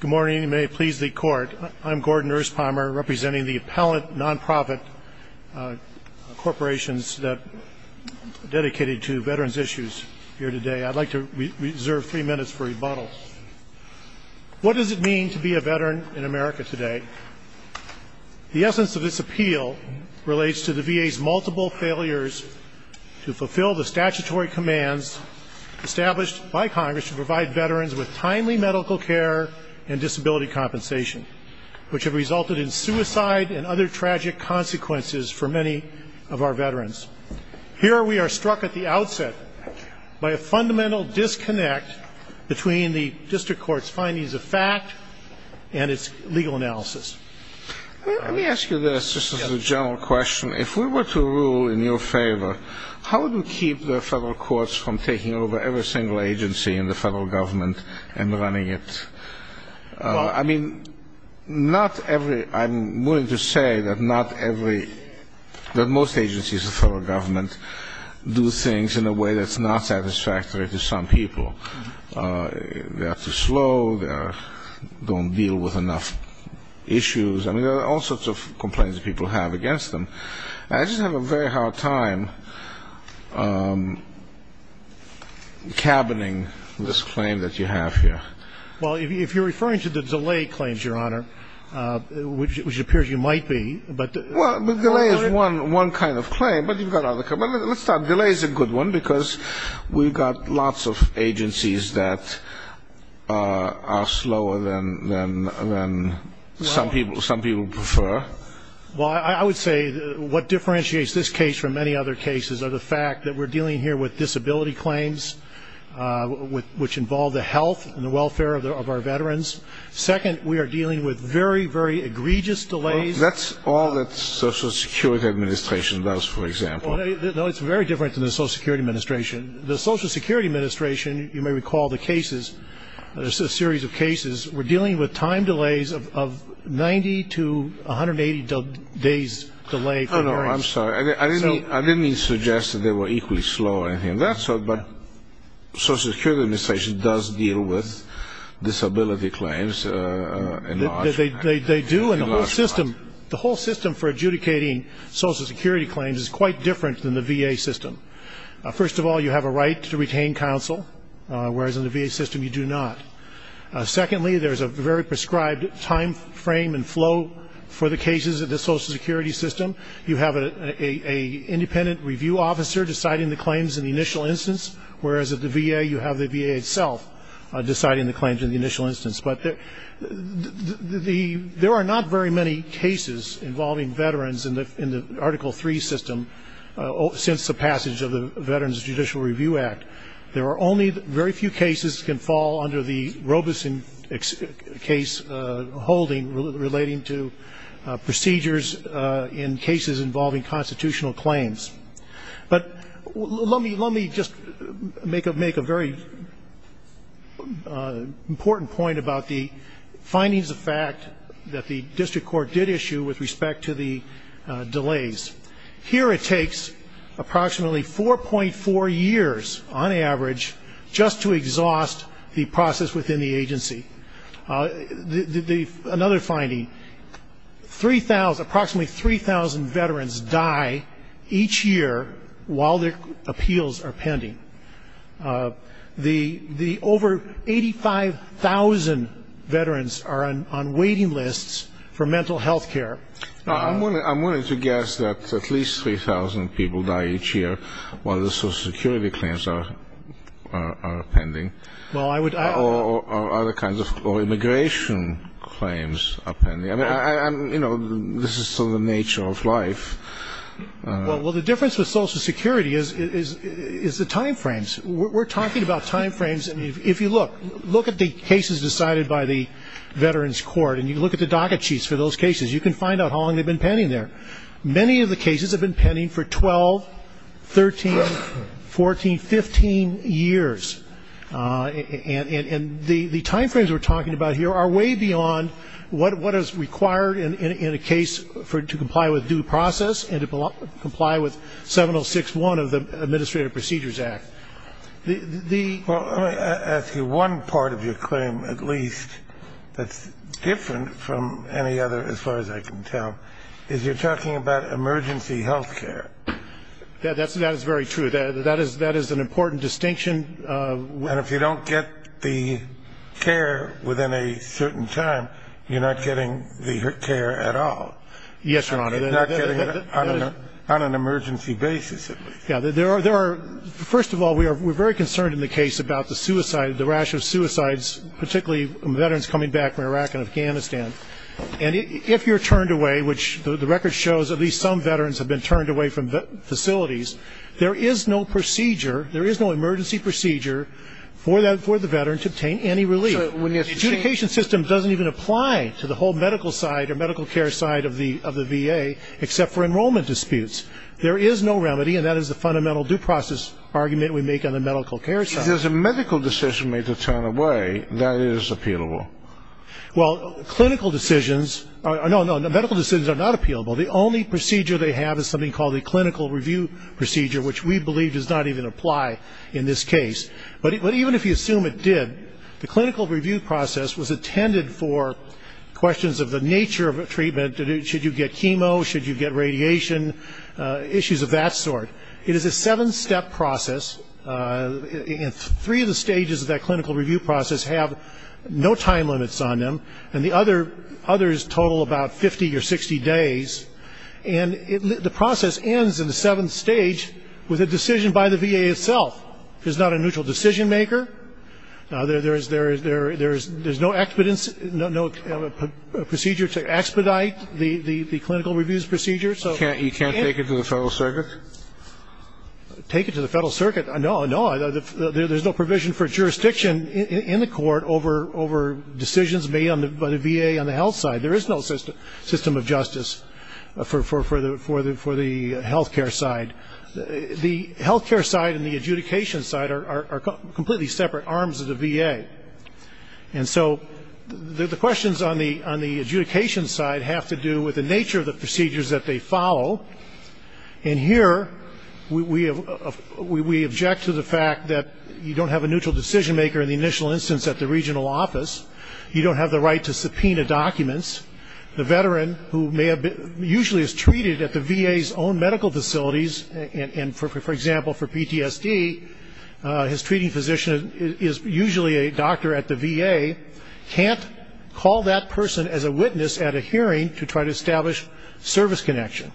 Good morning. May it please the court. I'm Gordon Erspommer, representing the appellant nonprofit corporations that are dedicated to veterans issues here today. I'd like to reserve three minutes for rebuttal. What does it mean to be a veteran in America today? The essence of this appeal relates to the VA's multiple failures to fulfill the statutory commands established by Congress to provide timely medical care and disability compensation, which have resulted in suicide and other tragic consequences for many of our veterans. Here we are struck at the outset by a fundamental disconnect between the district court's findings of fact and its legal analysis. Let me ask you this, just as a general question. If we were to rule in your favor, how would we keep the federal courts from taking over every single agency in the federal government and running it? I mean, not every, I'm willing to say that not every, that most agencies in the federal government do things in a way that's not satisfactory to some people. They're too slow, they don't deal with enough issues. I mean, there are all sorts of complaints people have against them. I just have a very hard time cabining this claim that you have here. Well, if you're referring to the delay claims, Your Honor, which it appears you might be, but... Well, delay is one kind of claim, but you've got other kinds. Let's start. Delay is a good one, because we've got lots of agencies that are slower than some people prefer. Well, I would say what differentiates this case from many other cases are the fact that we're dealing here with disability claims, which involve the health and the welfare of our veterans. Second, we are dealing with very, very egregious delays. That's all that the Social Security Administration does, for example. No, it's very different than the Social Security Administration. The Social Security Administration, you may recall the cases, there's a series of days' delay. I'm sorry. I didn't mean to suggest that they were equally slow or anything of that sort, but the Social Security Administration does deal with disability claims. They do, and the whole system for adjudicating Social Security claims is quite different than the VA system. First of all, you have a right to retain counsel, whereas in the VA system you do not. Secondly, there's a very prescribed time frame and flow for the cases of the Social Security system. You have an independent review officer deciding the claims in the initial instance, whereas at the VA you have the VA itself deciding the claims in the initial instance. But there are not very many cases involving veterans in the Article III system since the passage of the Veterans Judicial Review Act. There is a case holding relating to procedures in cases involving constitutional claims. But let me just make a very important point about the findings of fact that the district court did issue with respect to the delays. Here it takes approximately 4.4 years, on average, just to exhaust the process within the district court. Another finding, approximately 3,000 veterans die each year while their appeals are pending. The over 85,000 veterans are on waiting lists for mental health care. I'm willing to guess that at least 3,000 people die each year while the Social Security system is pending. Well, the difference with Social Security is the time frames. We're talking about time frames. If you look at the cases decided by the Veterans Court and you look at the docket sheets for those cases, you can find out how long they've been pending there. Many of the cases have been pending for 12, 13, 14, 15 years. And the time frames we're talking about here are way beyond what is required in a case to comply with due process and to comply with 706.1 of the Administrative Procedures Act. Well, let me ask you one part of your claim, at least, that's different from any other as far as I can tell, is you're talking about emergency health care. That is very true. That is an important distinction. And if you don't get the care within a certain time, you're not getting the care at all. Yes, Your Honor. You're not getting it on an emergency basis. First of all, we're very concerned in the case about the suicide, the rash of suicides, particularly veterans coming back from Iraq and Afghanistan. And if you're turned away, which the record shows at least some veterans have been turned away from facilities, there is no procedure, there is no emergency procedure for the veteran to obtain any relief. So when you're saying The adjudication system doesn't even apply to the whole medical side or medical care side of the VA except for enrollment disputes. There is no remedy and that is the fundamental due process argument we make on the medical care side. If there's a medical decision made to turn away, that is appealable. Well, clinical decisions, no, no, medical decisions are not appealable. The only procedure they have is something called the clinical review procedure, which we believe does not even apply in this case. But even if you assume it did, the clinical review process was intended for questions of the nature of a treatment, should you get chemo, should you get radiation, issues of that sort. It is a seven-step process and three of the stages of that clinical review process have no time limits on them and the others total about 50 or 60 days and the process ends in the seventh stage with a decision by the VA itself. There's not a neutral decision maker. There's no expedience, no procedure to expedite the clinical reviews procedure. So you can't You can't take it to the Federal Circuit? Take it to the Federal Circuit, no, no. There's no provision for jurisdiction in the court over decisions made by the VA on the health side. There is no system of justice for the health care side. The health care side and the adjudication side are completely separate arms of the VA. And so the questions on the adjudication side have to do with the nature of the procedures that they follow. And here we object to the fact that you don't have a neutral decision maker in the initial instance at the regional office. You don't have the right to subpoena documents. The veteran who may have been usually is treated at the VA's own medical facilities and, for example, for PTSD, his treating physician is usually a doctor at the VA, can't call that person as a witness at a hearing to try to establish service connection.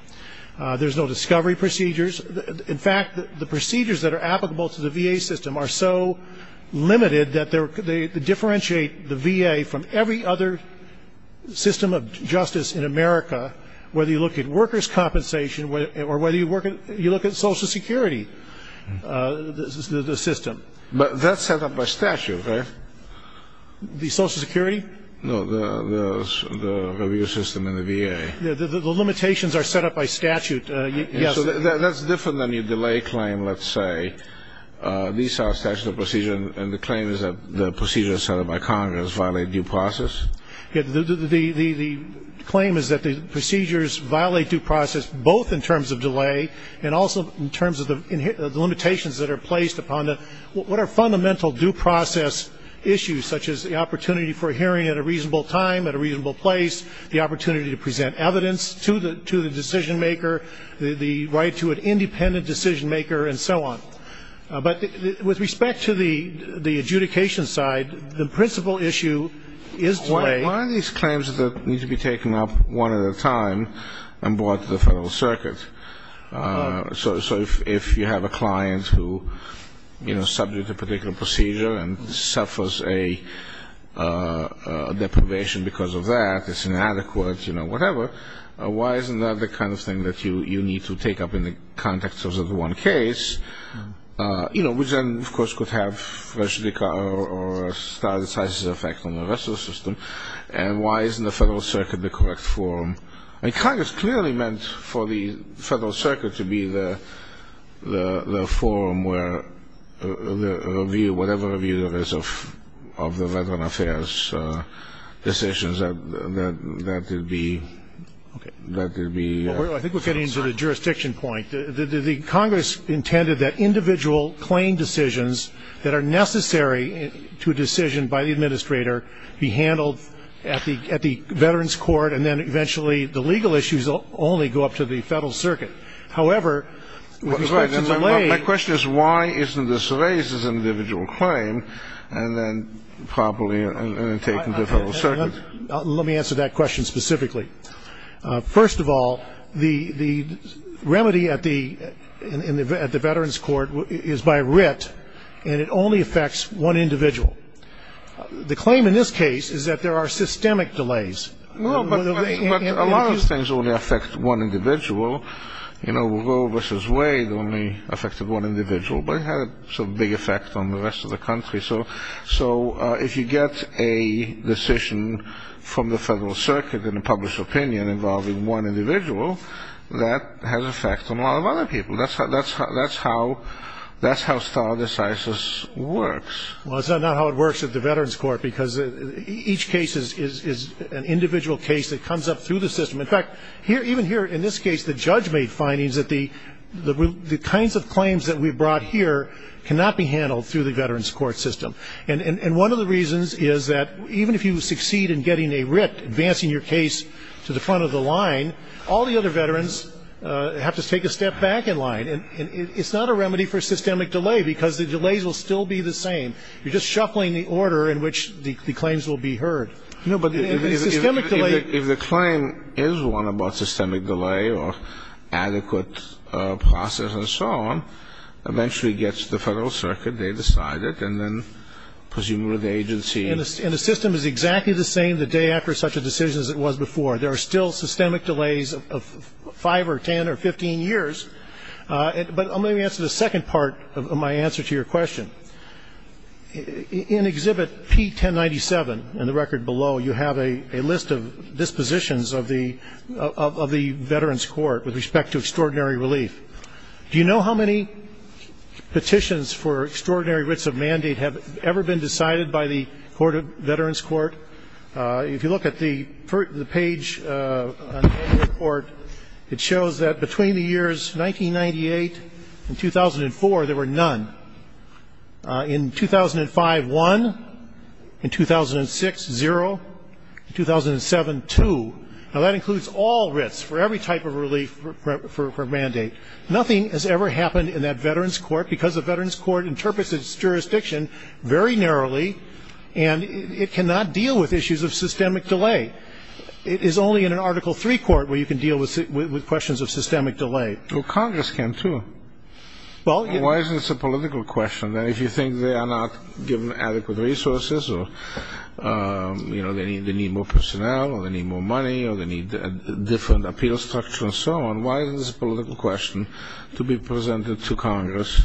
There's no discovery procedures. In fact, the procedures that are applicable to the VA system are so limited that they differentiate the VA from every other system of justice in America, whether you look at workers' compensation or whether you look at Social Security, the system. But that's set up by statute, right? The Social Security? No, the review system in the VA. The limitations are set up by statute. Yes. So that's different than your delay claim, let's say. These are statutes of procedure, and the claim is that the procedures set up by Congress violate due process? The claim is that the procedures violate due process both in terms of delay and also in terms of the limitations that are placed upon it. What are fundamental due process issues, such as the opportunity for a hearing at a reasonable time at a reasonable place, the opportunity to present evidence to the decision maker, the right to an independent decision maker, and so on? But with respect to the adjudication side, the principal issue is delay. Why are these claims that need to be taken up one at a time and brought to the Federal Circuit? So if you have a client who, you know, is subject to a particular procedure and suffers a deprivation because of that, it's inadequate, you know, whatever, why isn't that the kind of thing that you need to take up in the context of one case? You know, which then, of course, could have a status effect on the rest of the system. And why isn't the Federal Circuit the correct forum? I mean, Congress clearly meant for the Federal Circuit to be the forum where the review, whatever review there is of the Veterans Affairs decisions, that would be, that would be. I think we're getting to the jurisdiction point. The Congress intended that individual claim decisions that are necessary to a decision by the administrator be handled at the Veterans Court, and then eventually the legal issues only go up to the Federal Circuit. However, with respect to delay. My question is why isn't this raised as an individual claim, and then properly taken to the Federal Circuit? Let me answer that question specifically. First of all, the remedy at the Veterans Court is by writ, and it only affects one individual. The claim in this case is that there are systemic delays. No, but a lot of things only affect one individual. You know, Roe v. Wade only affected one individual, but it had some big effect on the rest of the country. So if you get a decision from the Federal Circuit in a published opinion involving one individual, that has an effect on a lot of other people. That's how stardecisis works. Well, it's not how it works at the Veterans Court, because each case is an individual case that comes up through the system. In fact, even here in this case, the judge made findings that the kinds of claims that we brought here cannot be handled through the Veterans Court system. And one of the reasons is that even if you succeed in getting a writ, advancing your case to the front of the line, all the other veterans have to take a step back in line. And it's not a remedy for systemic delay, because the delays will still be the same. You're just shuffling the order in which the claims will be heard. No, but the systemic delay If the claim is one about systemic delay or adequate process and so on, eventually gets to the Federal Circuit. They decide it, and then presumably the agency And the system is exactly the same the day after such a decision as it was before. There are still systemic delays of 5 or 10 or 15 years. But let me answer the second part of my answer to your question. In Exhibit P1097, in the record below, you have a list of dispositions of the Veterans Court with respect to extraordinary relief. Do you know how many petitions for extraordinary writs of mandate have ever been decided by the Veterans Court? If you look at the page on the report, it shows that between the years 1998 and 2004, there were none. In 2005, one. In 2006, zero. In 2007, two. Now, that includes all writs for every type of relief for mandate. Nothing has ever happened in that Veterans Court because the Veterans Court interprets its jurisdiction very narrowly, and it cannot deal with issues of systemic delay. It is only in an Article III court where you can deal with questions of systemic delay. Well, Congress can, too. Why isn't this a political question, that if you think they are not given adequate resources or they need more personnel or they need more money or they need a different appeal structure and so on, why isn't this a political question to be presented to Congress?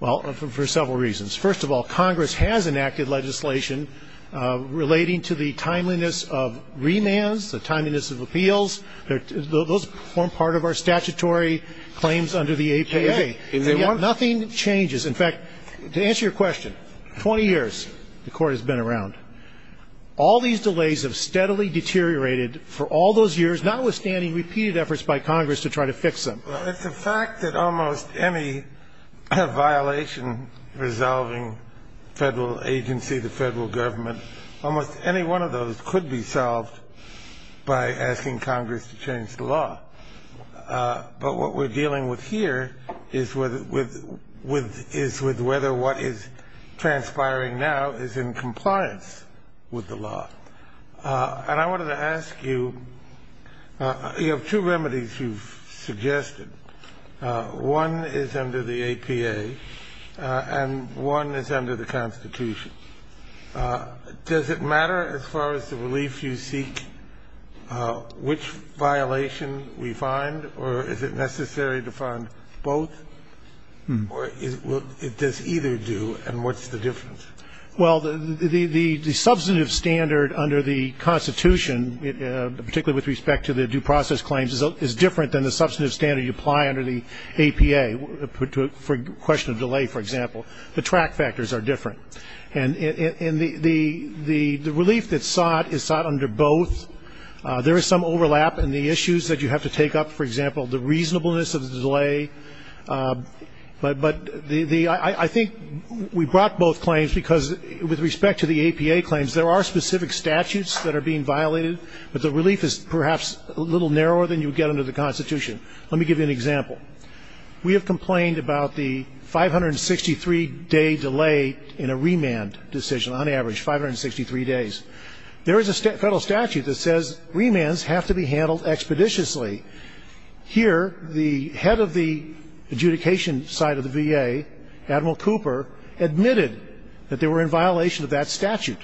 Well, for several reasons. First of all, Congress has enacted legislation relating to the timeliness of remands, the timeliness of appeals. Those form part of our statutory claims under the APA. And yet nothing changes. In fact, to answer your question, 20 years the court has been around. All these delays have steadily deteriorated for all those years, notwithstanding repeated efforts by Congress to try to fix them. Well, it's a fact that almost any violation resolving federal agency, the federal government, almost any one of those could be solved by asking Congress to change the law. But what we're dealing with here is with whether what is transpiring now is in compliance with the law. And I wanted to ask you, you have two remedies you've suggested. One is under the APA and one is under the Constitution. Does it matter as far as the relief you seek which violation we find, or is it necessary to find both, or does either do, and what's the difference? Well, the substantive standard under the Constitution, particularly with respect to the due process claims, is different than the substantive standard you apply under the APA for question of delay, for example. The track factors are different. And the relief that's sought is sought under both. There is some overlap in the issues that you have to take up, for example, the reasonableness of the delay. But I think we brought both claims because with respect to the APA claims, there are specific statutes that are being violated, but the relief is perhaps a little narrower than you would get under the Constitution. Let me give you an example. We have complained about the 563-day delay in a remand decision, on average, 563 days. There is a federal statute that says remands have to be handled expeditiously. Here, the head of the adjudication side of the VA, Admiral Cooper, admitted that they were in violation of that statute.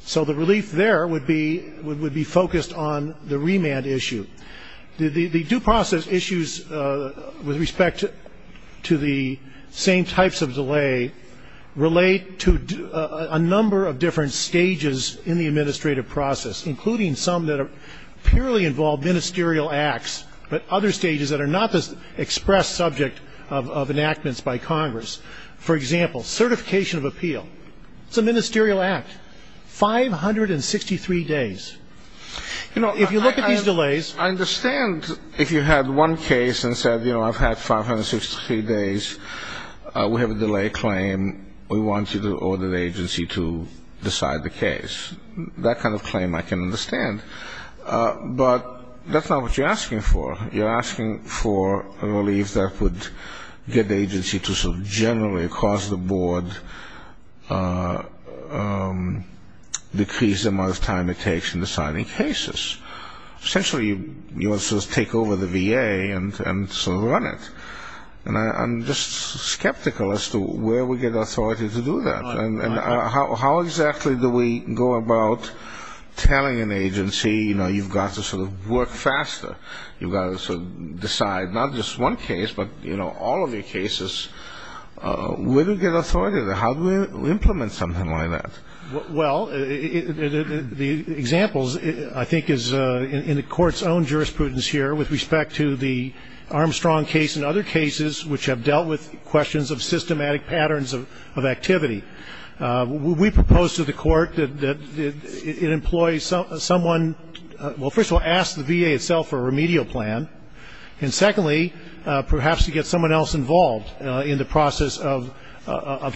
So the relief there would be focused on the remand issue. The due process issues, with respect to the same types of delay, relate to a number of different stages in the administrative process, including some that purely involve ministerial acts, but other stages that are not the expressed subject of enactments by Congress. For example, certification of appeal. It's a ministerial act. 563 days. You know, if you look at these delays... I understand if you had one case and said, you know, I've had 563 days. We have a delay claim. We want you to order the agency to decide the case. That kind of claim I can understand, but that's not what you're asking for. You're asking for a relief that would get the agency to sort of generally, across the board, decrease the amount of time it takes in deciding cases. Essentially, you want to sort of take over the VA and sort of run it. And I'm just skeptical as to where we get authority to do that. And how exactly do we go about telling an agency, you know, you've got to sort of work faster. You've got to sort of decide not just one case, but, you know, all of your cases. Where do we get authority? How do we implement something like that? Well, the examples, I think, is in the Court's own jurisprudence here with respect to the Armstrong case and other cases which have dealt with questions of systematic patterns of activity. We propose to the Court that it employs someone, well, first of all, ask the VA itself for a remedial plan. And secondly, perhaps to get someone else involved in the process of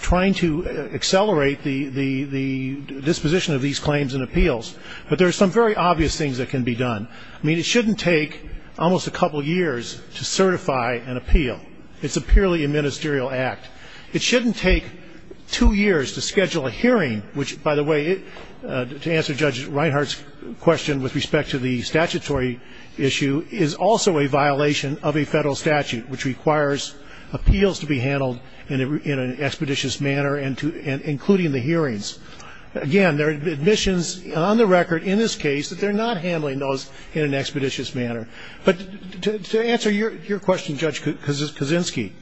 trying to accelerate the disposition of these claims and appeals, but there are some very obvious things that can be done. I mean, it shouldn't take almost a couple years to certify an appeal. It's a purely a ministerial act. It shouldn't take two years to schedule a hearing, which, by the way, to answer Judge Reinhart's question with respect to the statutory issue, is also a violation of a federal statute, which requires appeals to be handled in an expeditious manner, including the hearings. Again, there are admissions on the record in this case that they're not handling those in an expeditious manner. But to answer your question, Judge Kaczynski,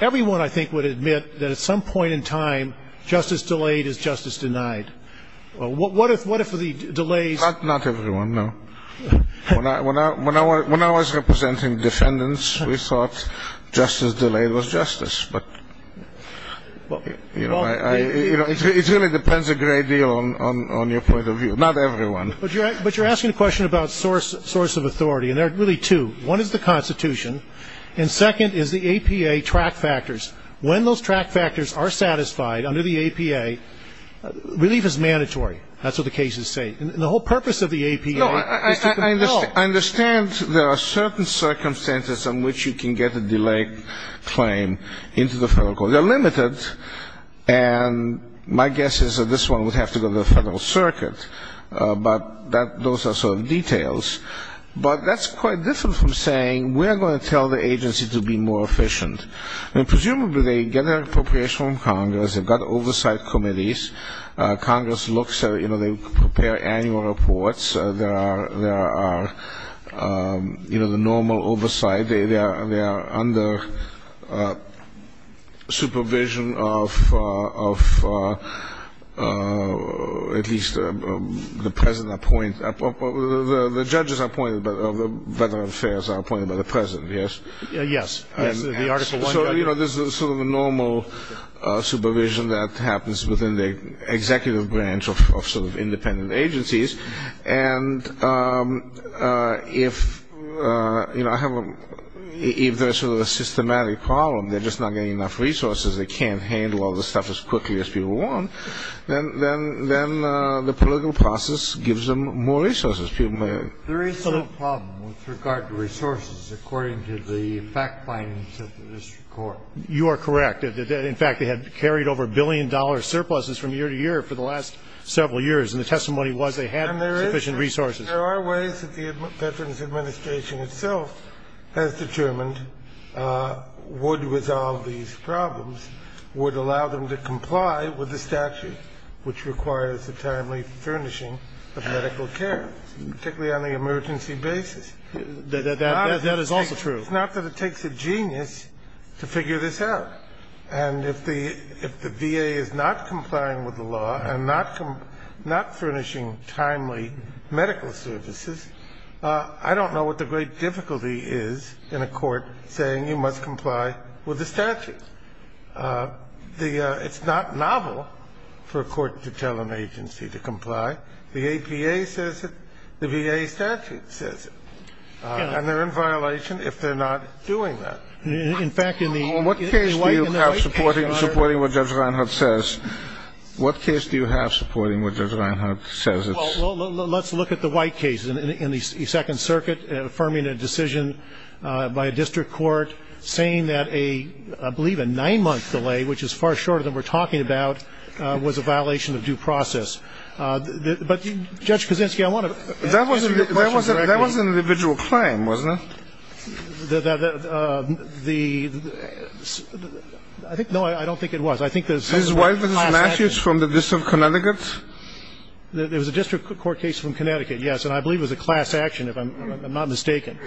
everyone, I think, would admit that at some point in time, justice delayed is justice denied. What if the delays ‑‑ Not everyone, no. When I was representing defendants, we thought justice delayed was justice. But, you know, it really depends a great deal on your point of view. Not everyone. But you're asking a question about source of authority, and there are really two. One is the Constitution, and second is the APA track factors. When those track factors are satisfied under the APA, relief is mandatory. That's what the cases say. And the whole purpose of the APA is to help. I understand there are certain circumstances in which you can get a delayed claim into the federal court. They're limited, and my guess is that this one would have to go to the federal circuit. But those are sort of details. But that's quite different from saying we're going to tell the agency to be more efficient. Presumably, they get an appropriation from Congress. They've got oversight committees. Congress looks at it. You know, they prepare annual reports. There are, you know, the normal oversight. They are under supervision of at least the present appointment. The judges appointed by the Veterans Affairs are appointed by the president, yes? Yes. Yes, the Article I judges. So, you know, this is sort of a normal supervision that happens within the executive branch of sort of independent agencies. And if, you know, if there's sort of a systematic problem, they're just not getting enough resources, they can't handle all the stuff as quickly as people want, then the political process gives them more resources. There is some problem with regard to resources according to the fact findings of the district court. You are correct. In fact, they had carried over a billion-dollar surpluses from year to year for the last several years. And the testimony was they had sufficient resources. And there are ways that the Veterans Administration itself has determined would resolve these problems, would allow them to comply with the statute, which requires the timely furnishing of medical care, particularly on the emergency basis. That is also true. It's not that it takes a genius to figure this out. And if the VA is not complying with the law and not furnishing timely medical services, I don't know what the great difficulty is in a court saying you must comply with the statute. It's not novel for a court to tell an agency to comply. The APA says it. The VA statute says it. And they're in violation if they're not doing that. In fact, in the White case, Your Honor. In what case do you have supporting what Judge Reinhart says? What case do you have supporting what Judge Reinhart says? Well, let's look at the White case in the Second Circuit affirming a decision by a district court saying that a, I believe, a nine-month delay, which is far shorter than we're talking about, was a violation of due process. But, Judge Kaczynski, I want to answer your question directly. That was an individual claim, wasn't it? The ‑‑ I think, no, I don't think it was. I think the ‑‑ This is White v. Matthews from the District of Connecticut? It was a district court case from Connecticut, yes. And I believe it was a class action, if I'm not mistaken.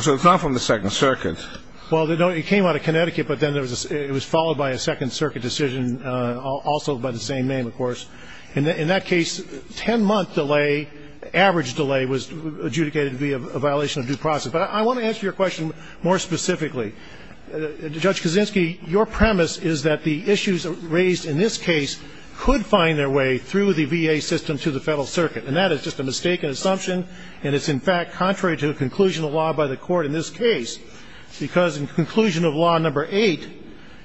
So it's not from the Second Circuit. Well, it came out of Connecticut, but then it was followed by a Second Circuit decision, also by the same name, of course. In that case, 10-month delay, average delay, was adjudicated to be a violation of due process. But I want to answer your question more specifically. Judge Kaczynski, your premise is that the issues raised in this case could find their way through the VA system to the Federal Circuit. And that is just a mistaken assumption. And it's, in fact, contrary to the conclusion of law by the Court in this case, because in conclusion of Law No. 8,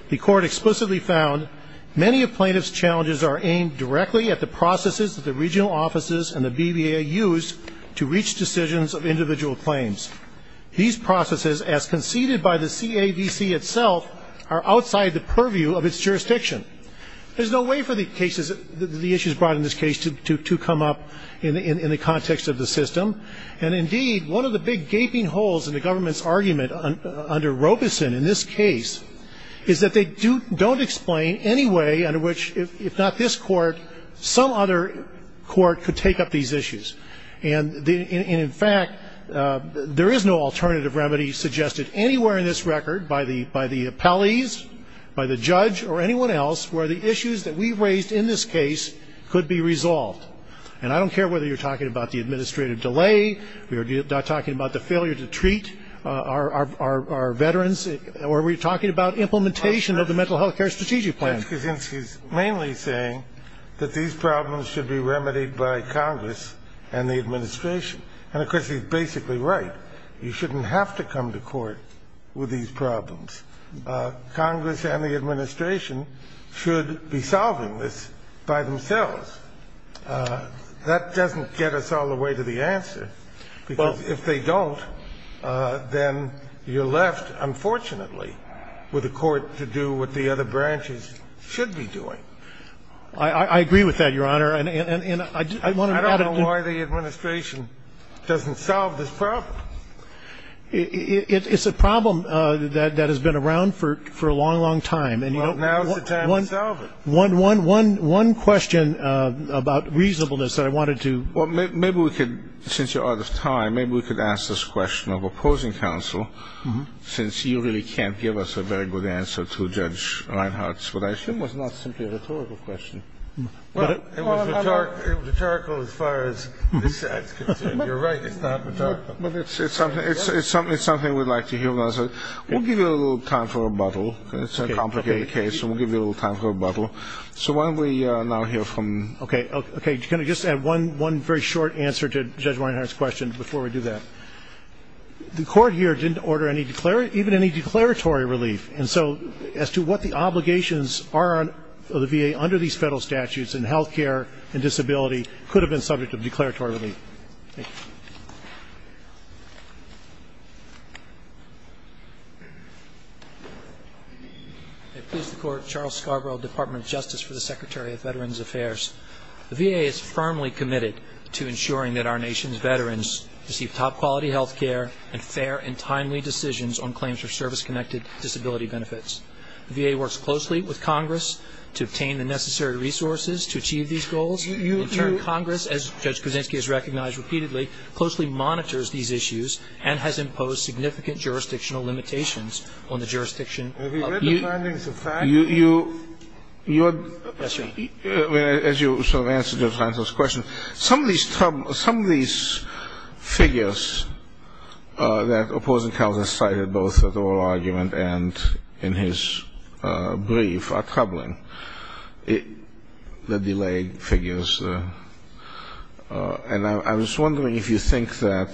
the Court explicitly found, many of plaintiff's challenges are aimed directly at the processes that the regional offices and the BVA use to reach decisions of individual claims. These processes, as conceded by the CADC itself, are outside the purview of its jurisdiction. There's no way for the issues brought in this case to come up in the context of the system. And, indeed, one of the big gaping holes in the government's argument under Robeson in this case is that they don't explain any way under which, if not this Court, some other Court could take up these issues. And, in fact, there is no alternative remedy suggested anywhere in this record by the appellees, by the judge, or anyone else, where the issues that we raised in this case could be resolved. And I don't care whether you're talking about the administrative delay, we're talking about the failure to treat our veterans, or we're talking about implementation of the Mental Health Care Strategic Plan. Kennedy's mainly saying that these problems should be remedied by Congress and the administration. And, of course, he's basically right. You shouldn't have to come to court with these problems. Congress and the administration should be solving this by themselves. That doesn't get us all the way to the answer, because if they don't, then you're left, unfortunately, with a court to do what the other branches should be doing. I agree with that, Your Honor. And I want to add a point. I don't know why the administration doesn't solve this problem. It's a problem that has been around for a long, long time. Well, now is the time to solve it. One question about reasonableness that I wanted to. Well, maybe we could, since you're out of time, maybe we could ask this question of opposing counsel, since you really can't give us a very good answer to Judge Reinhart's, which I assume was not simply a rhetorical question. Well, it was rhetorical as far as this side is concerned. You're right, it's not rhetorical. But it's something we'd like to hear. We'll give you a little time for rebuttal. It's a complicated case, and we'll give you a little time for rebuttal. So why don't we now hear from you. Okay. Can I just add one very short answer to Judge Reinhart's question before we do that? The court here didn't order even any declaratory relief. And so as to what the obligations are of the VA under these federal statutes in health care and disability could have been subject to declaratory relief. Thank you. Charles Scarborough, Department of Justice for the Secretary of Veterans Affairs. The VA is firmly committed to ensuring that our nation's veterans receive top-quality health care and fair and timely decisions on claims for service-connected disability benefits. The VA works closely with Congress to obtain the necessary resources to achieve these goals. In turn, Congress, as Judge Kuczynski has recognized repeatedly, closely monitors these issues and has imposed significant jurisdictional limitations on the jurisdiction. Have you read the findings of facts? Yes, sir. As you sort of answered Judge Reinhart's question, some of these figures that opposing counsel cited both at oral argument and in his brief are troubling, the delay figures. And I was wondering if you think that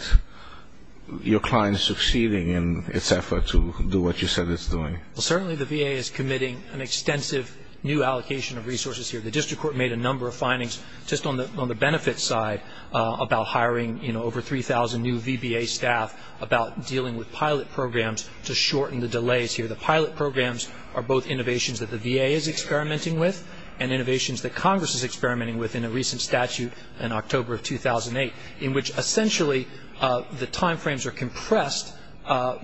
your client is succeeding in its effort to do what you said it's doing. Well, certainly the VA is committing an extensive new allocation of resources here. The district court made a number of findings just on the benefits side about hiring, you know, over 3,000 new VBA staff about dealing with pilot programs to shorten the delays here. The pilot programs are both innovations that the VA is experimenting with and innovations that Congress is experimenting with in a recent statute in October of 2008, in which essentially the time frames are compressed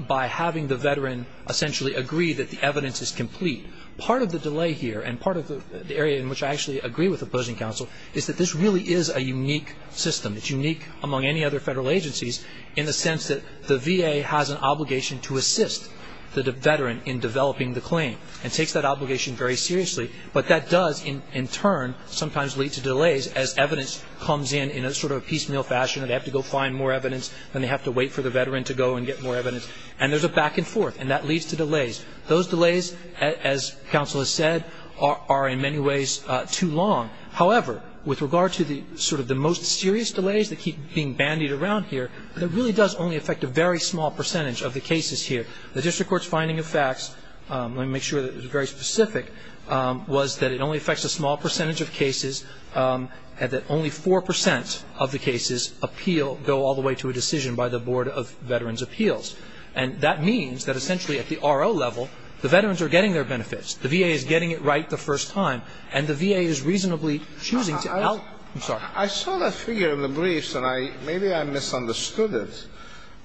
by having the veteran essentially agree that the evidence is complete. Part of the delay here and part of the area in which I actually agree with opposing counsel is that this really is a unique system. It's unique among any other federal agencies in the sense that the VA has an obligation to assist the veteran in developing the claim and takes that obligation very seriously. But that does in turn sometimes lead to delays as evidence comes in in a sort of piecemeal fashion and they have to go find more evidence and they have to wait for the veteran to go and get more evidence. And there's a back and forth and that leads to delays. Those delays, as counsel has said, are in many ways too long. However, with regard to the sort of the most serious delays that keep being bandied around here, it really does only affect a very small percentage of the cases here. The district court's finding of facts, let me make sure that it's very specific, was that it only affects a small percentage of cases and that only 4% of the cases appeal, go all the way to a decision by the Board of Veterans' Appeals. And that means that essentially at the RO level, the veterans are getting their benefits, the VA is getting it right the first time, and the VA is reasonably choosing to help. I'm sorry. I saw that figure in the briefs and maybe I misunderstood it,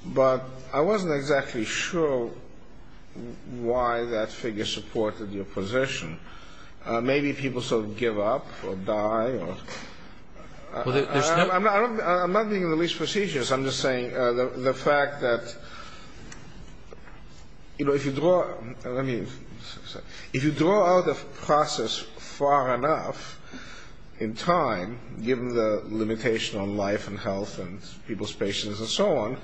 but I wasn't exactly sure why that figure supported your position. Maybe people sort of give up or die or... I'm not making the least prestigious. I'm just saying the fact that, you know, if you draw out a process far enough in time, given the limitation on life and health and people's patience and so on,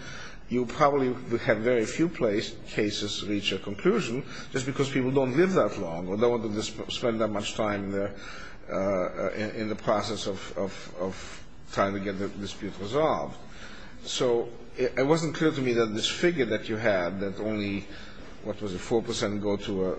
you probably would have very few cases reach a conclusion just because people don't live that long or don't want to spend that much time in the process of trying to get the dispute resolved. So it wasn't clear to me that this figure that you had, that only, what was it, 4% go to a...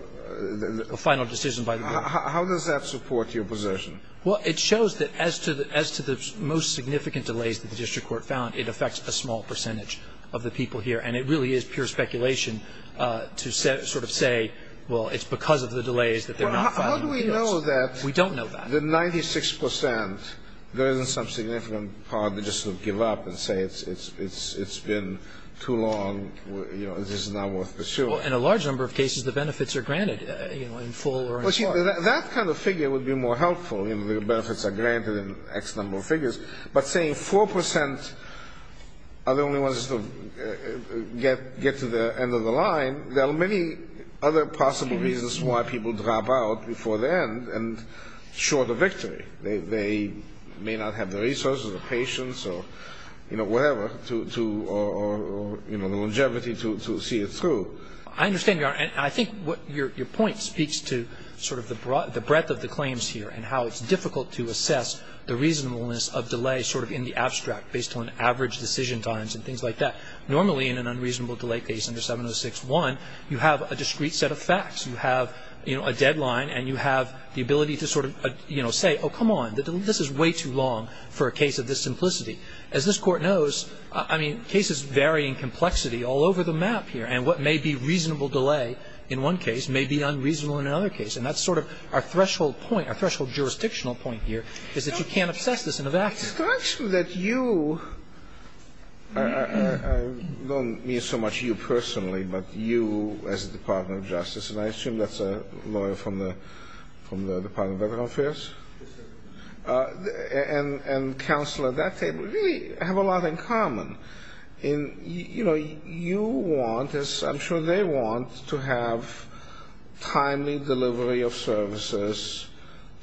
A final decision by the Board. How does that support your position? Well, it shows that as to the most significant delays that the district court found, it affects a small percentage of the people here. And it really is pure speculation to sort of say, well, it's because of the delays that they're not filing the appeals. Well, how do we know that... We don't know that. ...the 96%, there isn't some significant part that just sort of give up and say it's been too long, you know, this is not worth pursuing. Well, in a large number of cases, the benefits are granted, you know, in full or in part. Well, see, that kind of figure would be more helpful. You know, the benefits are granted in X number of figures. But saying 4% are the only ones to get to the end of the line, there are many other possible reasons why people drop out before the end and short a victory. They may not have the resources or the patience or, you know, whatever, or, you know, the longevity to see it through. I understand, Your Honor, and I think your point speaks to sort of the breadth of the claims here and how it's difficult to assess the reasonableness of delay sort of in the abstract based on average decision times and things like that. Normally, in an unreasonable delay case under 706-1, you have a discrete set of facts. You have, you know, a deadline and you have the ability to sort of, you know, say, oh, come on, this is way too long for a case of this simplicity. As this Court knows, I mean, cases vary in complexity all over the map here, and what may be reasonable delay in one case may be unreasonable in another case. And that's sort of our threshold point, our threshold jurisdictional point here, is that you can't assess this in a vacuum. Actually, that you, I don't mean so much you personally, but you as the Department of Justice, and I assume that's a lawyer from the Department of Veterans Affairs, and counsel at that table really have a lot in common. And, you know, you want, as I'm sure they want, to have timely delivery of services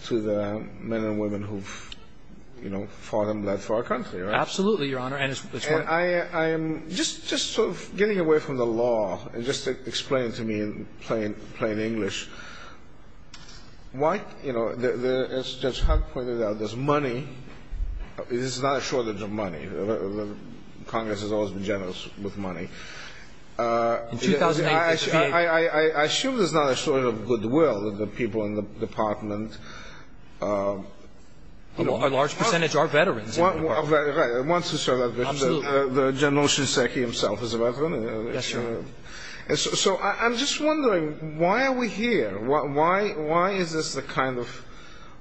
to the men and women who've, you know, fought and bled for our country, right? Absolutely, Your Honor. And I'm just sort of getting away from the law and just explain to me in plain English why, you know, as Judge Hunt pointed out, there's money. There's not a shortage of money. Congress has always been generous with money. I assume there's not a shortage of goodwill of the people in the department. A large percentage are veterans in the department. Right. The General Shinseki himself is a veteran. Yes, Your Honor. So I'm just wondering, why are we here? Why is this the kind of,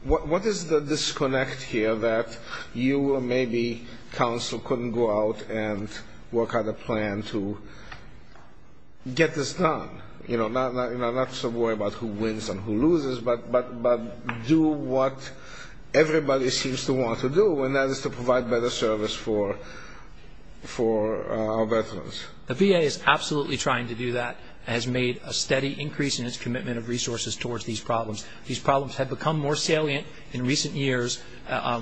what is the disconnect here that you or maybe counsel couldn't go out and work out a plan to get this done? You know, not to worry about who wins and who loses, but do what everybody seems to want to do, and that is to provide better service for our veterans. The VA is absolutely trying to do that and has made a steady increase in its commitment of resources towards these problems. These problems have become more salient in recent years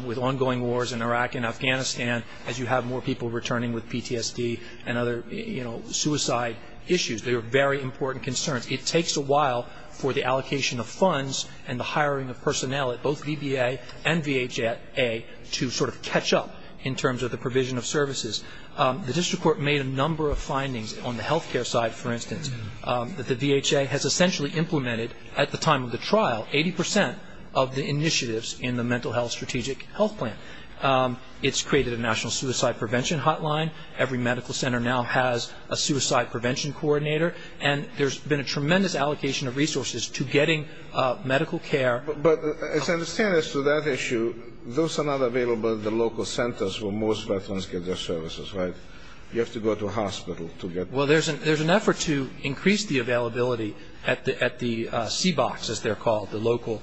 with ongoing wars in Iraq and Afghanistan as you have more people returning with PTSD and other, you know, suicide issues. They are very important concerns. It takes a while for the allocation of funds and the hiring of personnel at both VBA and VHA to sort of catch up in terms of the provision of services. The district court made a number of findings on the health care side, for instance, that the VHA has essentially implemented, at the time of the trial, 80 percent of the initiatives in the mental health strategic health plan. It's created a national suicide prevention hotline. Every medical center now has a suicide prevention coordinator, and there's been a tremendous allocation of resources to getting medical care. But as I understand as to that issue, those are not available at the local centers where most veterans get their services, right? You have to go to a hospital to get them. Well, there's an effort to increase the availability at the CBOCs, as they're called, the local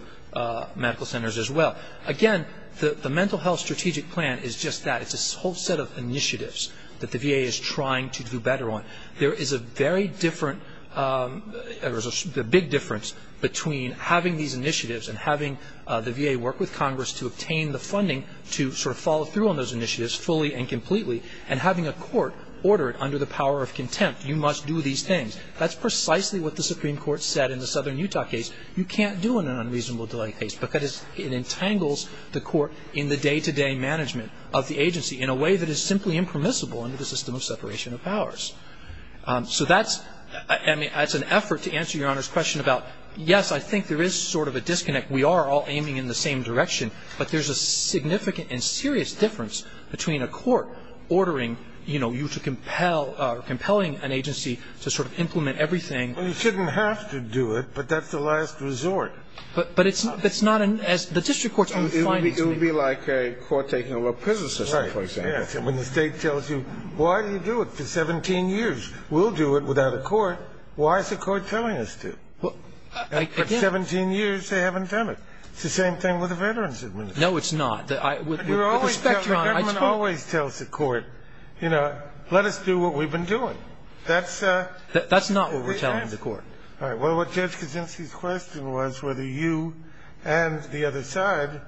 medical centers as well. Again, the mental health strategic plan is just that. It's a whole set of initiatives that the VA is trying to do better on. There is a very different or a big difference between having these initiatives and having the VA work with Congress to obtain the funding to sort of follow through on those initiatives fully and completely and having a court order it under the power of contempt. You must do these things. That's precisely what the Supreme Court said in the Southern Utah case. You can't do an unreasonable delay case because it entangles the court in the day-to-day management of the agency in a way that is simply impermissible under the system of separation of powers. So that's an effort to answer Your Honor's question about, yes, I think there is sort of a disconnect. We are all aiming in the same direction. But there's a significant and serious difference between a court ordering, you know, you to compel or compelling an agency to sort of implement everything. Well, you shouldn't have to do it, but that's the last resort. But it's not an as the district court's own findings. It would be like a court taking over a prison system, for example. Right. When the state tells you, why do you do it for 17 years? We'll do it without a court. Why is the court telling us to? Again. After 17 years, they haven't done it. It's the same thing with the Veterans Administration. No, it's not. With respect, Your Honor, I told you. The government always tells the court, you know, let us do what we've been doing. That's the answer. That's not what we're telling the court. All right. Well, Judge Kaczynski's question was whether you and the other side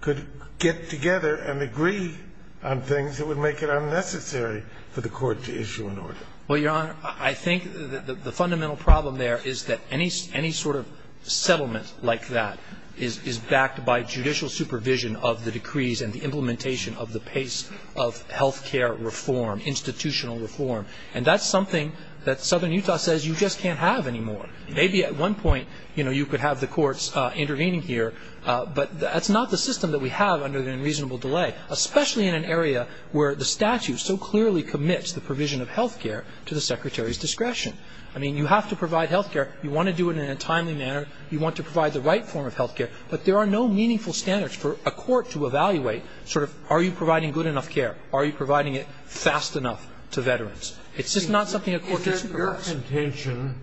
could get together and agree on things that would make it unnecessary for the court to issue an order. Well, Your Honor, I think the fundamental problem there is that any sort of settlement like that is backed by judicial supervision of the decrees and the implementation of the pace of health care reform, institutional reform. And that's something that Southern Utah says you just can't have anymore. Maybe at one point, you know, you could have the courts intervening here, but that's not the system that we have under the unreasonable delay, especially in an area where the statute so clearly commits the provision of health care to the Secretary's discretion. I mean, you have to provide health care. You want to do it in a timely manner. You want to provide the right form of health care. But there are no meaningful standards for a court to evaluate sort of are you providing good enough care, are you providing it fast enough to veterans. It's just not something a court can supervise. Is it your contention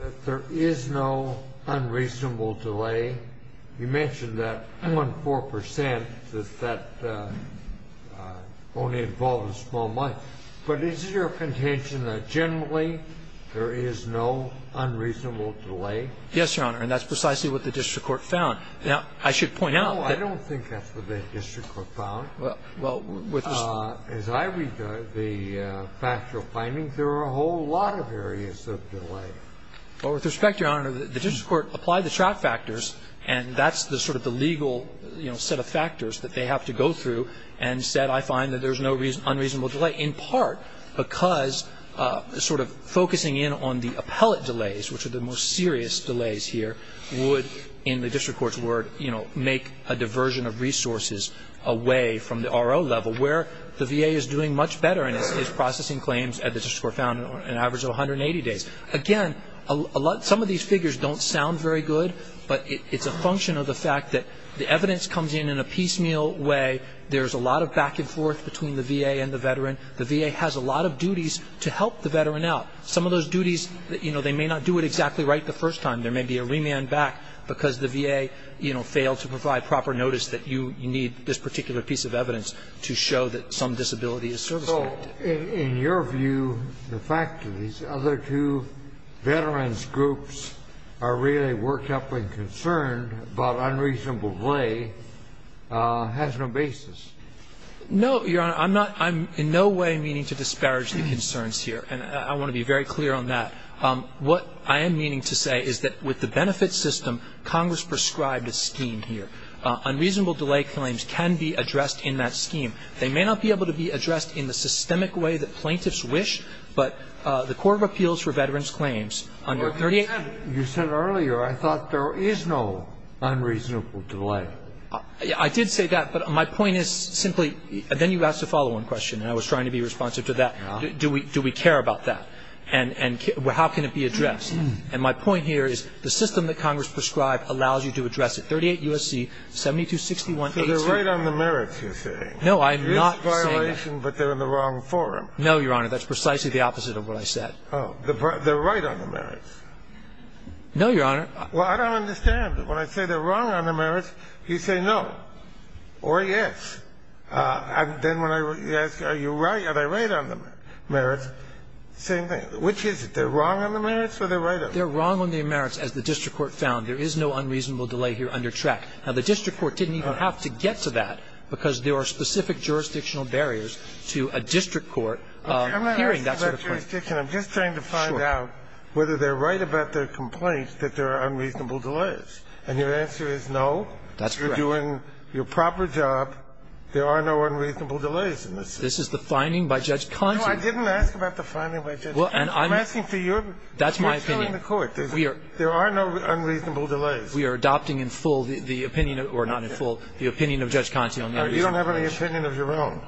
that there is no unreasonable delay? You mentioned that 1.4 percent, that that only involves small money. But is it your contention that generally there is no unreasonable delay? Yes, Your Honor, and that's precisely what the district court found. Now, I should point out that the district court found, as I read the factual findings, Well, with respect, Your Honor, the district court applied the track factors, and that's the sort of the legal, you know, set of factors that they have to go through, and said I find that there's no unreasonable delay in part because sort of focusing in on the appellate delays, which are the most serious delays here, would, in the district court's word, you know, make a diversion of resources away from the RO level where the VA is doing much better and is processing claims at the district court found on an average of 180 days. Again, some of these figures don't sound very good, but it's a function of the fact that the evidence comes in in a piecemeal way. There's a lot of back and forth between the VA and the veteran. The VA has a lot of duties to help the veteran out. Some of those duties, you know, they may not do it exactly right the first time. There may be a remand back because the VA, you know, failed to provide proper notice that you need this particular piece of evidence to show that some disability is service-related. So in your view, the fact that these other two veterans groups are really worked up and concerned about unreasonable delay has no basis? No, Your Honor. I'm not ñ I'm in no way meaning to disparage the concerns here, and I want to be very clear on that. What I am meaning to say is that with the benefit system, Congress prescribed a scheme here. Unreasonable delay claims can be addressed in that scheme. They may not be able to be addressed in the systemic way that plaintiffs wish, but the Court of Appeals for Veterans Claims under 38 ñ Well, you said earlier I thought there is no unreasonable delay. I did say that, but my point is simply ñ and then you asked a follow-on question, and I was trying to be responsive to that. Do we care about that? And how can it be addressed? And my point here is the system that Congress prescribed allows you to address it. It's a violation of the merits. And so I'm not saying that the Court of Appeals for Veterans Claims under 38, U.S.C. 7261A2Ö So they're right on the merits, you're saying. No, I'm not saying that. It is a violation, but they're in the wrong forum. No, Your Honor. That's precisely the opposite of what I said. Oh. They're right on the merits. No, Your Honor. Well, I don't understand. When I say they're wrong on the merits, you say no or yes. And then when I ask are you right, are they right on the merits, same thing. Which is it? They're wrong on the merits or they're right on the merits? They're wrong on the merits, as the district court found. There is no unreasonable delay here under Track. Now, the district court didn't even have to get to that because there are specific jurisdictional barriers to a district court hearing that sort of claim. I'm not asking about jurisdiction. I'm just trying to find out whether they're right about their complaints that there are unreasonable delays. And your answer is no? That's correct. If you're doing your proper job, there are no unreasonable delays in this. This is the finding by Judge Consigliano. No, I didn't ask about the finding by Judge Consigliano. I'm asking for your opinion. That's my opinion. There are no unreasonable delays. We are adopting in full the opinion, or not in full, the opinion of Judge Consigliano. You don't have any opinion of your own.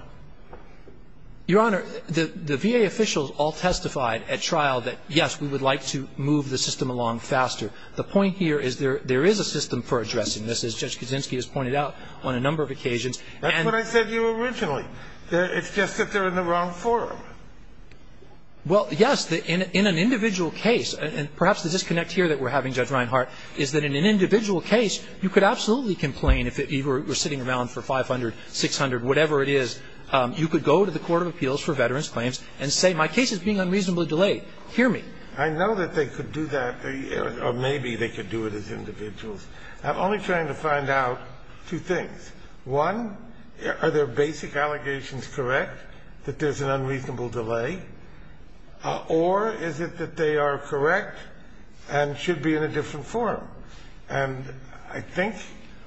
Your Honor, the VA officials all testified at trial that, yes, we would like to move the system along faster. This is a very important point that's been pointed out on a number of occasions. That's what I said to you originally. It's just that they're in the wrong forum. Well, yes. In an individual case, and perhaps the disconnect here that we're having, Judge Reinhardt, is that in an individual case, you could absolutely complain if you were sitting around for 500, 600, whatever it is. You could go to the Court of Appeals for Veterans Claims and say my case is being unreasonably delayed. Hear me. I know that they could do that, or maybe they could do it as individuals. I'm only trying to find out two things. One, are their basic allegations correct that there's an unreasonable delay, or is it that they are correct and should be in a different forum? And I think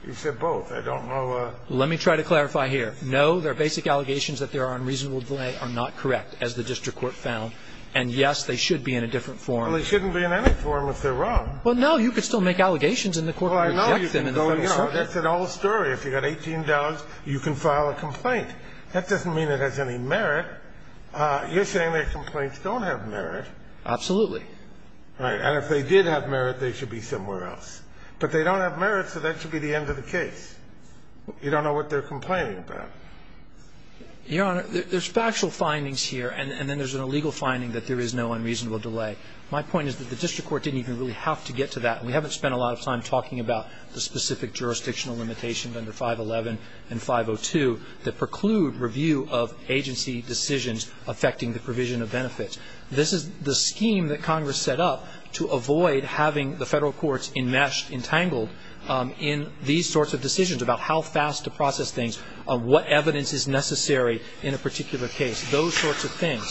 you said both. I don't know. Let me try to clarify here. No, their basic allegations that there are unreasonable delay are not correct, as the district court found. And yes, they should be in a different forum. Well, they shouldn't be in any forum if they're wrong. Well, no. You could still make allegations and the court would reject them in the federal circuit. Well, I know you could go, you know, that's an old story. If you've got $18, you can file a complaint. That doesn't mean it has any merit. You're saying their complaints don't have merit. Absolutely. Right. And if they did have merit, they should be somewhere else. But they don't have merit, so that should be the end of the case. You don't know what they're complaining about. Your Honor, there's factual findings here, and then there's an illegal finding that there is no unreasonable delay. My point is that the district court didn't even really have to get to that. We haven't spent a lot of time talking about the specific jurisdictional limitations under 511 and 502 that preclude review of agency decisions affecting the provision of benefits. This is the scheme that Congress set up to avoid having the federal courts enmeshed, entangled in these sorts of decisions about how fast to process things, what evidence is necessary in a particular case, those sorts of things.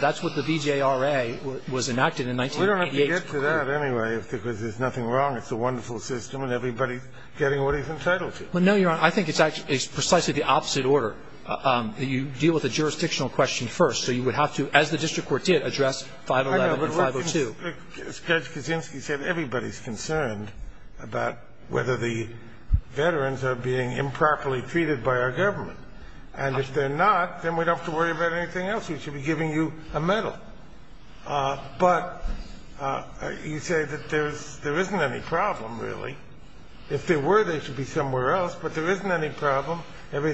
That's what the BJRA was enacted in 1988. We don't have to get to that anyway because there's nothing wrong. It's a wonderful system, and everybody's getting what he's entitled to. Well, no, Your Honor. I think it's precisely the opposite order. You deal with the jurisdictional question first, so you would have to, as the district court did, address 511 and 502. I think you're going sort of to a policy argument. I'm not going to a policy argument. I'm asking you about the facts. You know, are the veterans receiving the kind of treatment they're entitled If there were, they should be somewhere else, but there isn't any problem. Or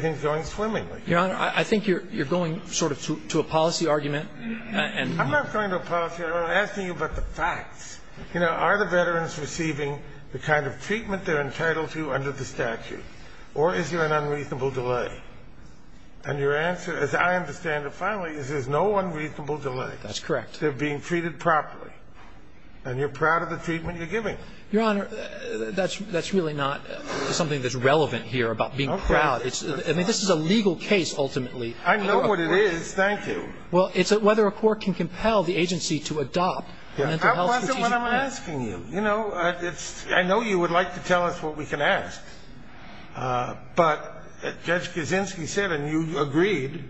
is there an unreasonable delay? And your answer, as I understand it finally, is there's no unreasonable delay. That's correct. They're being treated properly. And you're proud of the treatment you're giving. Your Honor, that's really not something that's relevant here about being proud. I mean, this is a legal case, ultimately. I know what it is. Thank you. Well, it's whether a court can compel the agency to adopt a mental health strategic plan. That wasn't what I'm asking you. I know you would like to tell us what we can ask, but Judge Kaczynski said, and you agreed,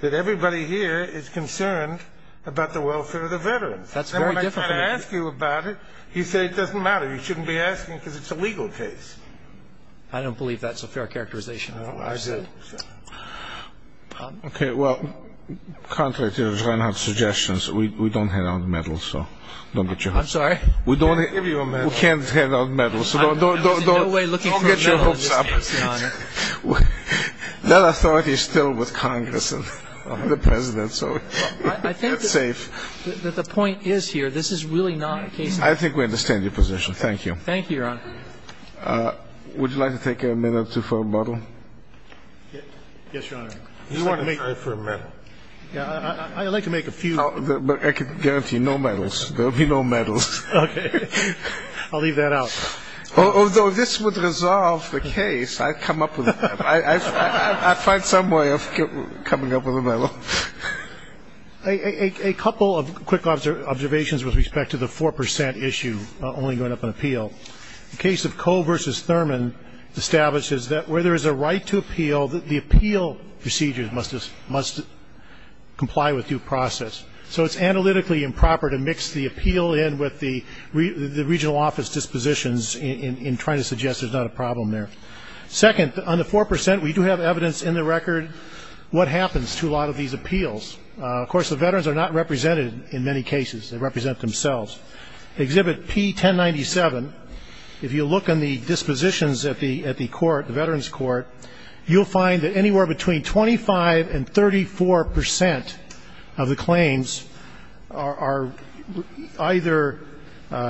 that everybody here is concerned about the welfare of the veterans. That's very different. When I tried to ask you about it, you said it doesn't matter. You shouldn't be asking because it's a legal case. I don't believe that's a fair characterization. I do. Okay, well, contrary to your suggestions, we don't hand out medals, so don't get your hopes up. I'm sorry? We can't hand out medals. There's no way looking for a medal in this case, Your Honor. That authority is still with Congress and the President, so it's safe. I think that the point is here, this is really not a case. I think we understand your position. Thank you. Thank you, Your Honor. Would you like to take a minute or two for a bottle? Yes, Your Honor. I'd like to make a few. But I can guarantee no medals. There will be no medals. Okay. I'll leave that out. Although this would resolve the case, I'd come up with a medal. I'd find some way of coming up with a medal. A couple of quick observations with respect to the 4% issue, only going up in appeal. The case of Coe v. Thurman establishes that where there is a right to appeal, the appeal procedure must comply with due process. So it's analytically improper to mix the appeal in with the regional office dispositions in trying to suggest there's not a problem there. Second, on the 4%, we do have evidence in the record what happens to a lot of these appeals. Of course, the veterans are not represented in many cases. They represent themselves. Exhibit P1097, if you look in the dispositions at the court, the veterans court, you'll find that anywhere between 25% and 34% of the claims are either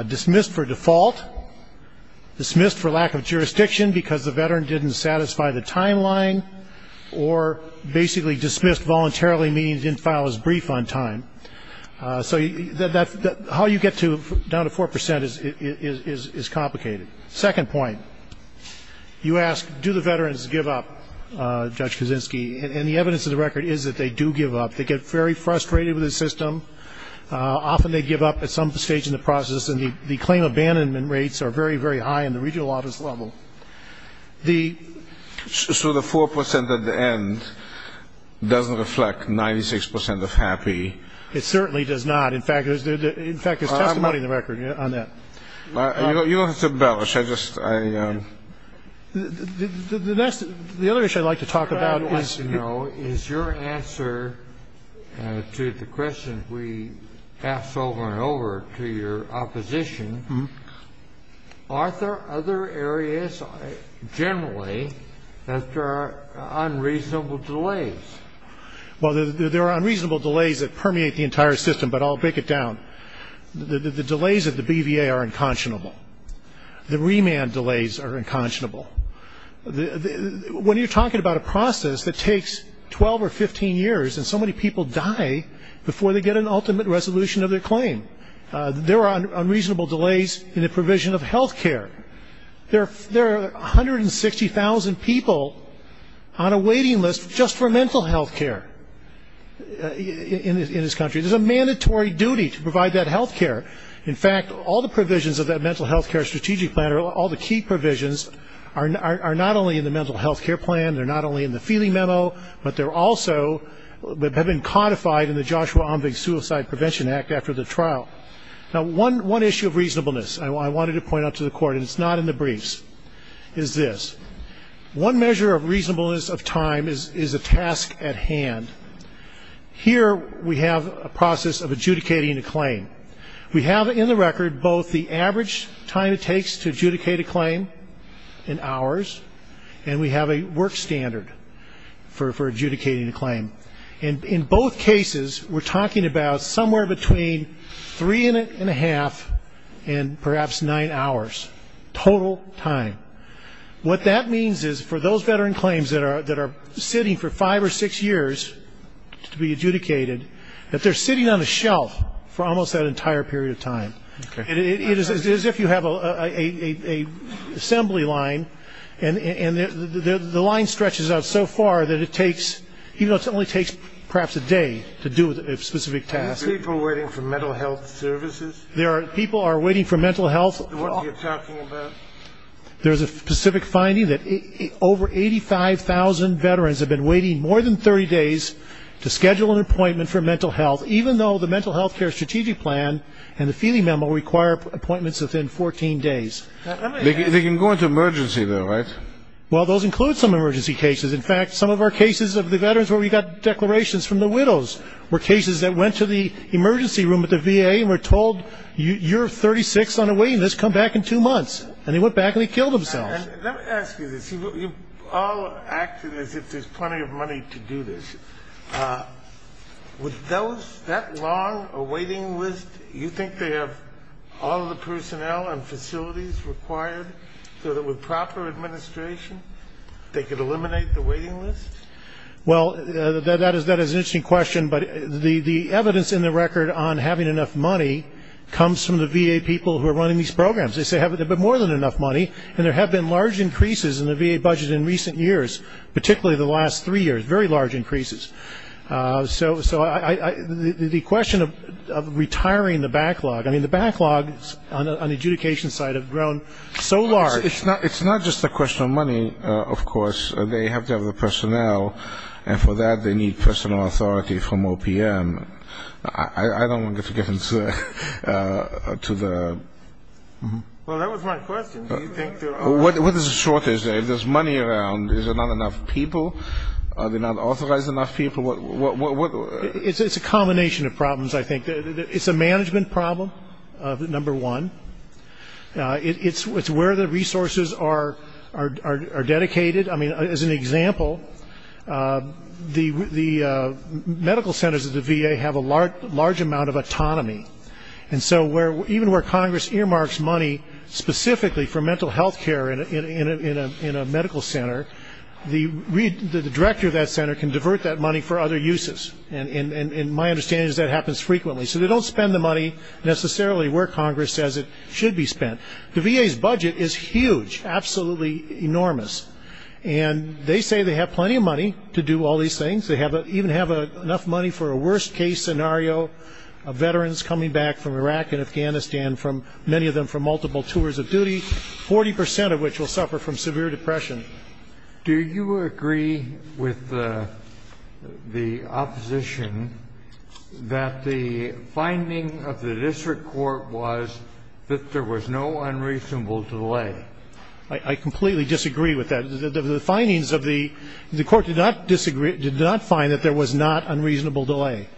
dismissed for default, dismissed for lack of jurisdiction because the veteran didn't satisfy the timeline, or basically dismissed voluntarily, meaning he didn't file his brief on time. So how you get down to 4% is complicated. Second point, you ask, do the veterans give up, Judge Kaczynski, and the evidence of the record is that they do give up. They get very frustrated with the system. Often they give up at some stage in the process, and the claim abandonment rates are very, very high in the regional office level. So the 4% at the end doesn't reflect 96% of happy. It certainly does not. In fact, it's testimony in the record on that. You don't have to embellish. The other issue I'd like to talk about is your answer to the question we asked over and over to your opposition. Are there other areas generally that there are unreasonable delays? Well, there are unreasonable delays that permeate the entire system, but I'll break it down. The delays at the BVA are unconscionable. The remand delays are unconscionable. When you're talking about a process that takes 12 or 15 years, and so many people die before they get an ultimate resolution of their claim, there are unreasonable delays in the provision of health care. There are 160,000 people on a waiting list just for mental health care in this country. There's a mandatory duty to provide that health care. In fact, all the provisions of that mental health care strategic plan, all the key provisions are not only in the mental health care plan, they're not only in the feeling memo, but they're also have been codified in the Joshua Omvig Suicide Prevention Act after the trial. Now, one issue of reasonableness I wanted to point out to the Court, and it's not in the briefs, is this. One measure of reasonableness of time is a task at hand. Here we have a process of adjudicating a claim. We have in the record both the average time it takes to adjudicate a claim, in hours, and we have a work standard for adjudicating a claim. In both cases, we're talking about somewhere between three and a half and perhaps nine hours total time. What that means is for those veteran claims that are sitting for five or six years to be adjudicated, that they're sitting on a shelf for almost that entire period of time. It is as if you have an assembly line, and the line stretches out so far that it only takes perhaps a day to do a specific task. Are people waiting for mental health services? People are waiting for mental health. What are you talking about? There's a specific finding that over 85,000 veterans have been waiting more than 30 days to schedule an appointment for mental health, even though the mental health care strategic plan and the feeding memo require appointments within 14 days. They can go into emergency, though, right? Well, those include some emergency cases. In fact, some of our cases of the veterans where we got declarations from the widows were cases that went to the emergency room at the VA and were told, you're 36 on a waiting list, come back in two months. And they went back and they killed themselves. Let me ask you this. You've all acted as if there's plenty of money to do this. With that long a waiting list, you think they have all the personnel and facilities required so that with proper administration, they could eliminate the waiting list? Well, that is an interesting question, but the evidence in the record on having enough money comes from the VA people who are running these programs. They say they have more than enough money, and there have been large increases in the VA budget in recent years, particularly the last three years, very large increases. So the question of retiring the backlog, I mean, the backlogs on the adjudication side have grown so large. It's not just a question of money, of course. They have to have the personnel, and for that they need personnel authority from OPM. I don't want to get into the... Well, that was my question. What is the shortage there? If there's money around, is there not enough people? Are they not authorized enough people? It's a combination of problems, I think. It's a management problem, number one. It's where the resources are dedicated. I mean, as an example, the medical centers of the VA have a large amount of autonomy, and so even where Congress earmarks money specifically for mental health care in a medical center, the director of that center can divert that money for other uses, and my understanding is that happens frequently. So they don't spend the money necessarily where Congress says it should be spent. The VA's budget is huge, absolutely enormous, and they say they have plenty of money to do all these things. They even have enough money for a worst-case scenario of veterans coming back from Iraq and Afghanistan, many of them from multiple tours of duty, 40 percent of which will suffer from severe depression. Do you agree with the opposition that the finding of the district court was that there was no unreasonable delay? I completely disagree with that. The findings of the court did not find that there was not unreasonable delay.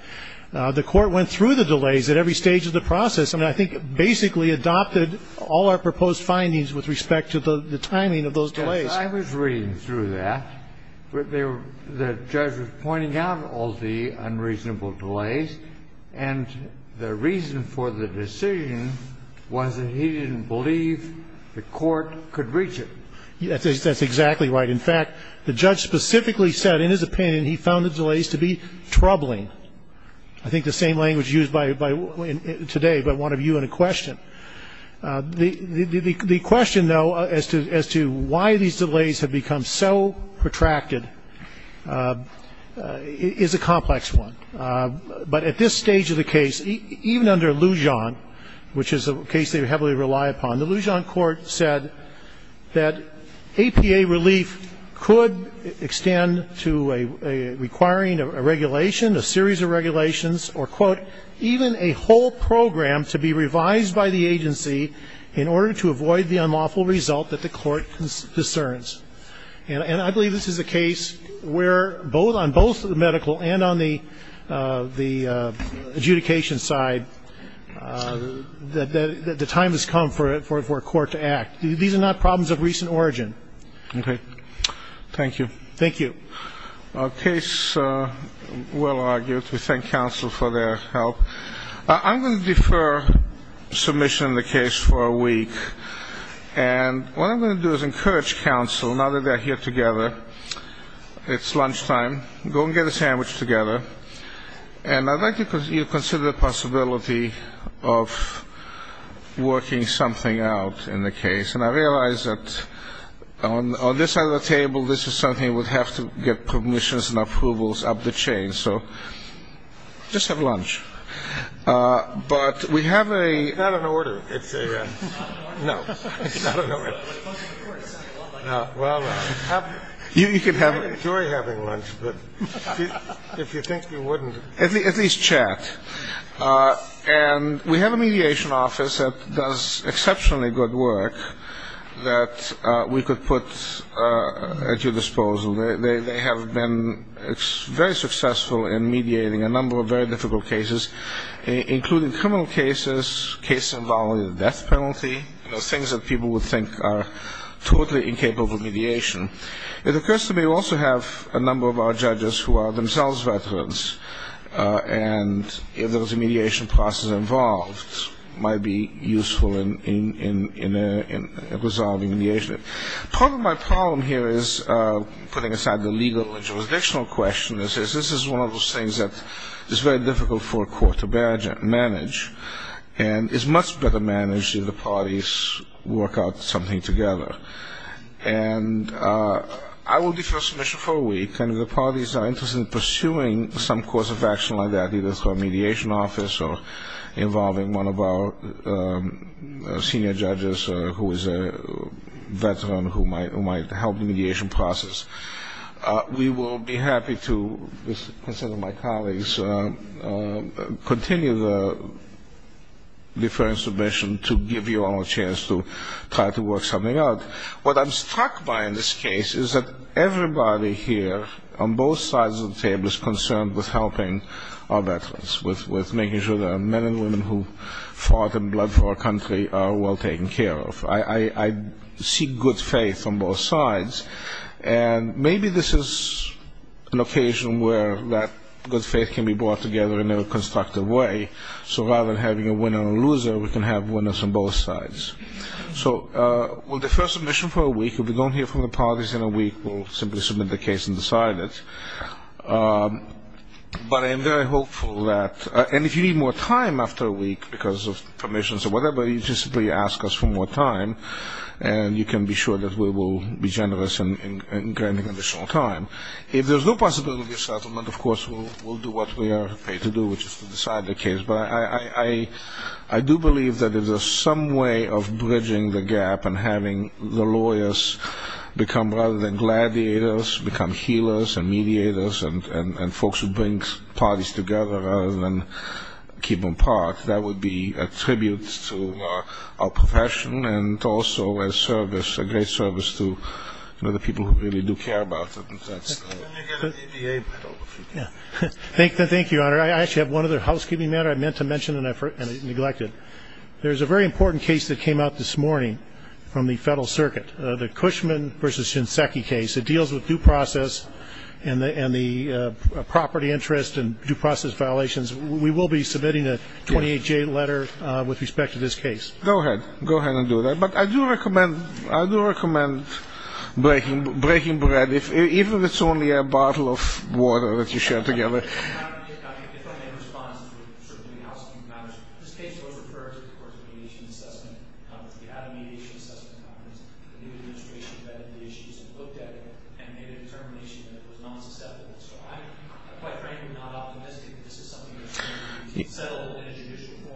The court went through the delays at every stage of the process and I think basically adopted all our proposed findings with respect to the timing of those delays. I was reading through that. The judge was pointing out all the unreasonable delays, and the reason for the decision was that he didn't believe the court could reach it. That's exactly right. In fact, the judge specifically said in his opinion he found the delays to be troubling. I think the same language used today by one of you in a question. The question, though, as to why these delays have become so protracted is a complex one. But at this stage of the case, even under Lujan, which is a case they heavily rely upon, the Lujan court said that APA relief could extend to requiring a regulation, a series of regulations, or, quote, even a whole program to be revised by the agency in order to avoid the unlawful result that the court discerns. And I believe this is a case where both on both the medical and on the adjudication side, the time has come for a court to act. These are not problems of recent origin. Okay. Thank you. Thank you. A case well argued. We thank counsel for their help. I'm going to defer submission of the case for a week. And what I'm going to do is encourage counsel, now that they're here together, it's lunchtime, go and get a sandwich together. And I'd like you to consider the possibility of working something out in the case. And I realize that on this side of the table, this is something we'd have to get permissions and approvals up the chain. So just have lunch. But we have a... It's not an order. It's a... No. It's not an order. Well... You can have... If you think we wouldn't... At least chat. And we have a mediation office that does exceptionally good work that we could put at your disposal. They have been very successful in mediating a number of very difficult cases, including criminal cases, cases involving the death penalty, things that people would think are totally incapable of mediation. It occurs to me we also have a number of our judges who are themselves veterans, and if there was a mediation process involved, it might be useful in resolving mediation. Part of my problem here is, putting aside the legal and jurisdictional question, is this is one of those things that is very difficult for a court to manage and is much better managed if the parties work out something together. And I will defer submission for a week, and if the parties are interested in pursuing some course of action like that, either through a mediation office or involving one of our senior judges who is a veteran who might help the mediation process, we will be happy to, with the consent of my colleagues, continue the deferring submission to give you all a chance to try to work something out. What I'm struck by in this case is that everybody here on both sides of the table is concerned with helping our veterans, with making sure that men and women who fought and bled for our country are well taken care of. I see good faith on both sides, and maybe this is an occasion where that good faith can be brought together in a constructive way, so rather than having a winner and a loser, we can have winners on both sides. So we'll defer submission for a week. If we don't hear from the parties in a week, we'll simply submit the case and decide it. But I am very hopeful that, and if you need more time after a week because of permissions or whatever, you just simply ask us for more time, and you can be sure that we will be generous in granting additional time. If there's no possibility of settlement, of course we'll do what we are paid to do, which is to decide the case. But I do believe that if there's some way of bridging the gap and having the lawyers become rather than gladiators, become healers and mediators and folks who bring parties together rather than keep them apart, that would be a tribute to our profession and also a service, a great service to the people who really do care about it. Thank you, Your Honor. I actually have one other housekeeping matter I meant to mention and I neglected. There's a very important case that came out this morning from the Federal Circuit, the Cushman v. Shinseki case. It deals with due process and the property interest and due process violations. We will be submitting a 28-J letter with respect to this case. Go ahead. Go ahead and do that. But I do recommend breaking bread, even if it's only a bottle of water that you share together.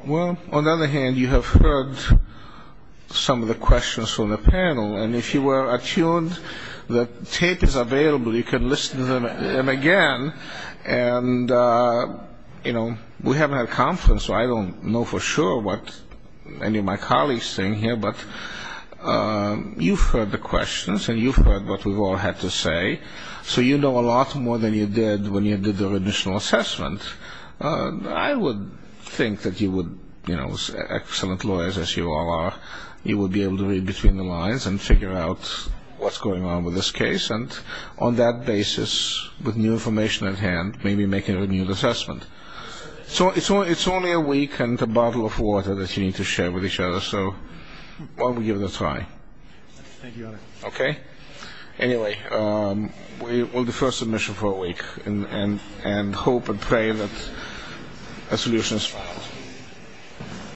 Well, on the other hand, you have heard some of the questions from the panel. And if you were attuned, the tape is available. You can listen to them again. And, you know, we haven't had a conference, so I don't know for sure what any of my colleagues think here. But you've heard the questions and you've heard what we've all had to say, so you know a lot more than you did when you did the judicial assessment. I would think that you would, you know, as excellent lawyers as you all are, you would be able to read between the lines and figure out what's going on with this case. And on that basis, with new information at hand, maybe make a renewed assessment. So it's only a week and a bottle of water that you need to share with each other, so why don't we give it a try? Thank you, Your Honor. Okay? Anyway, we'll defer submission for a week and hope and pray that a solution is found.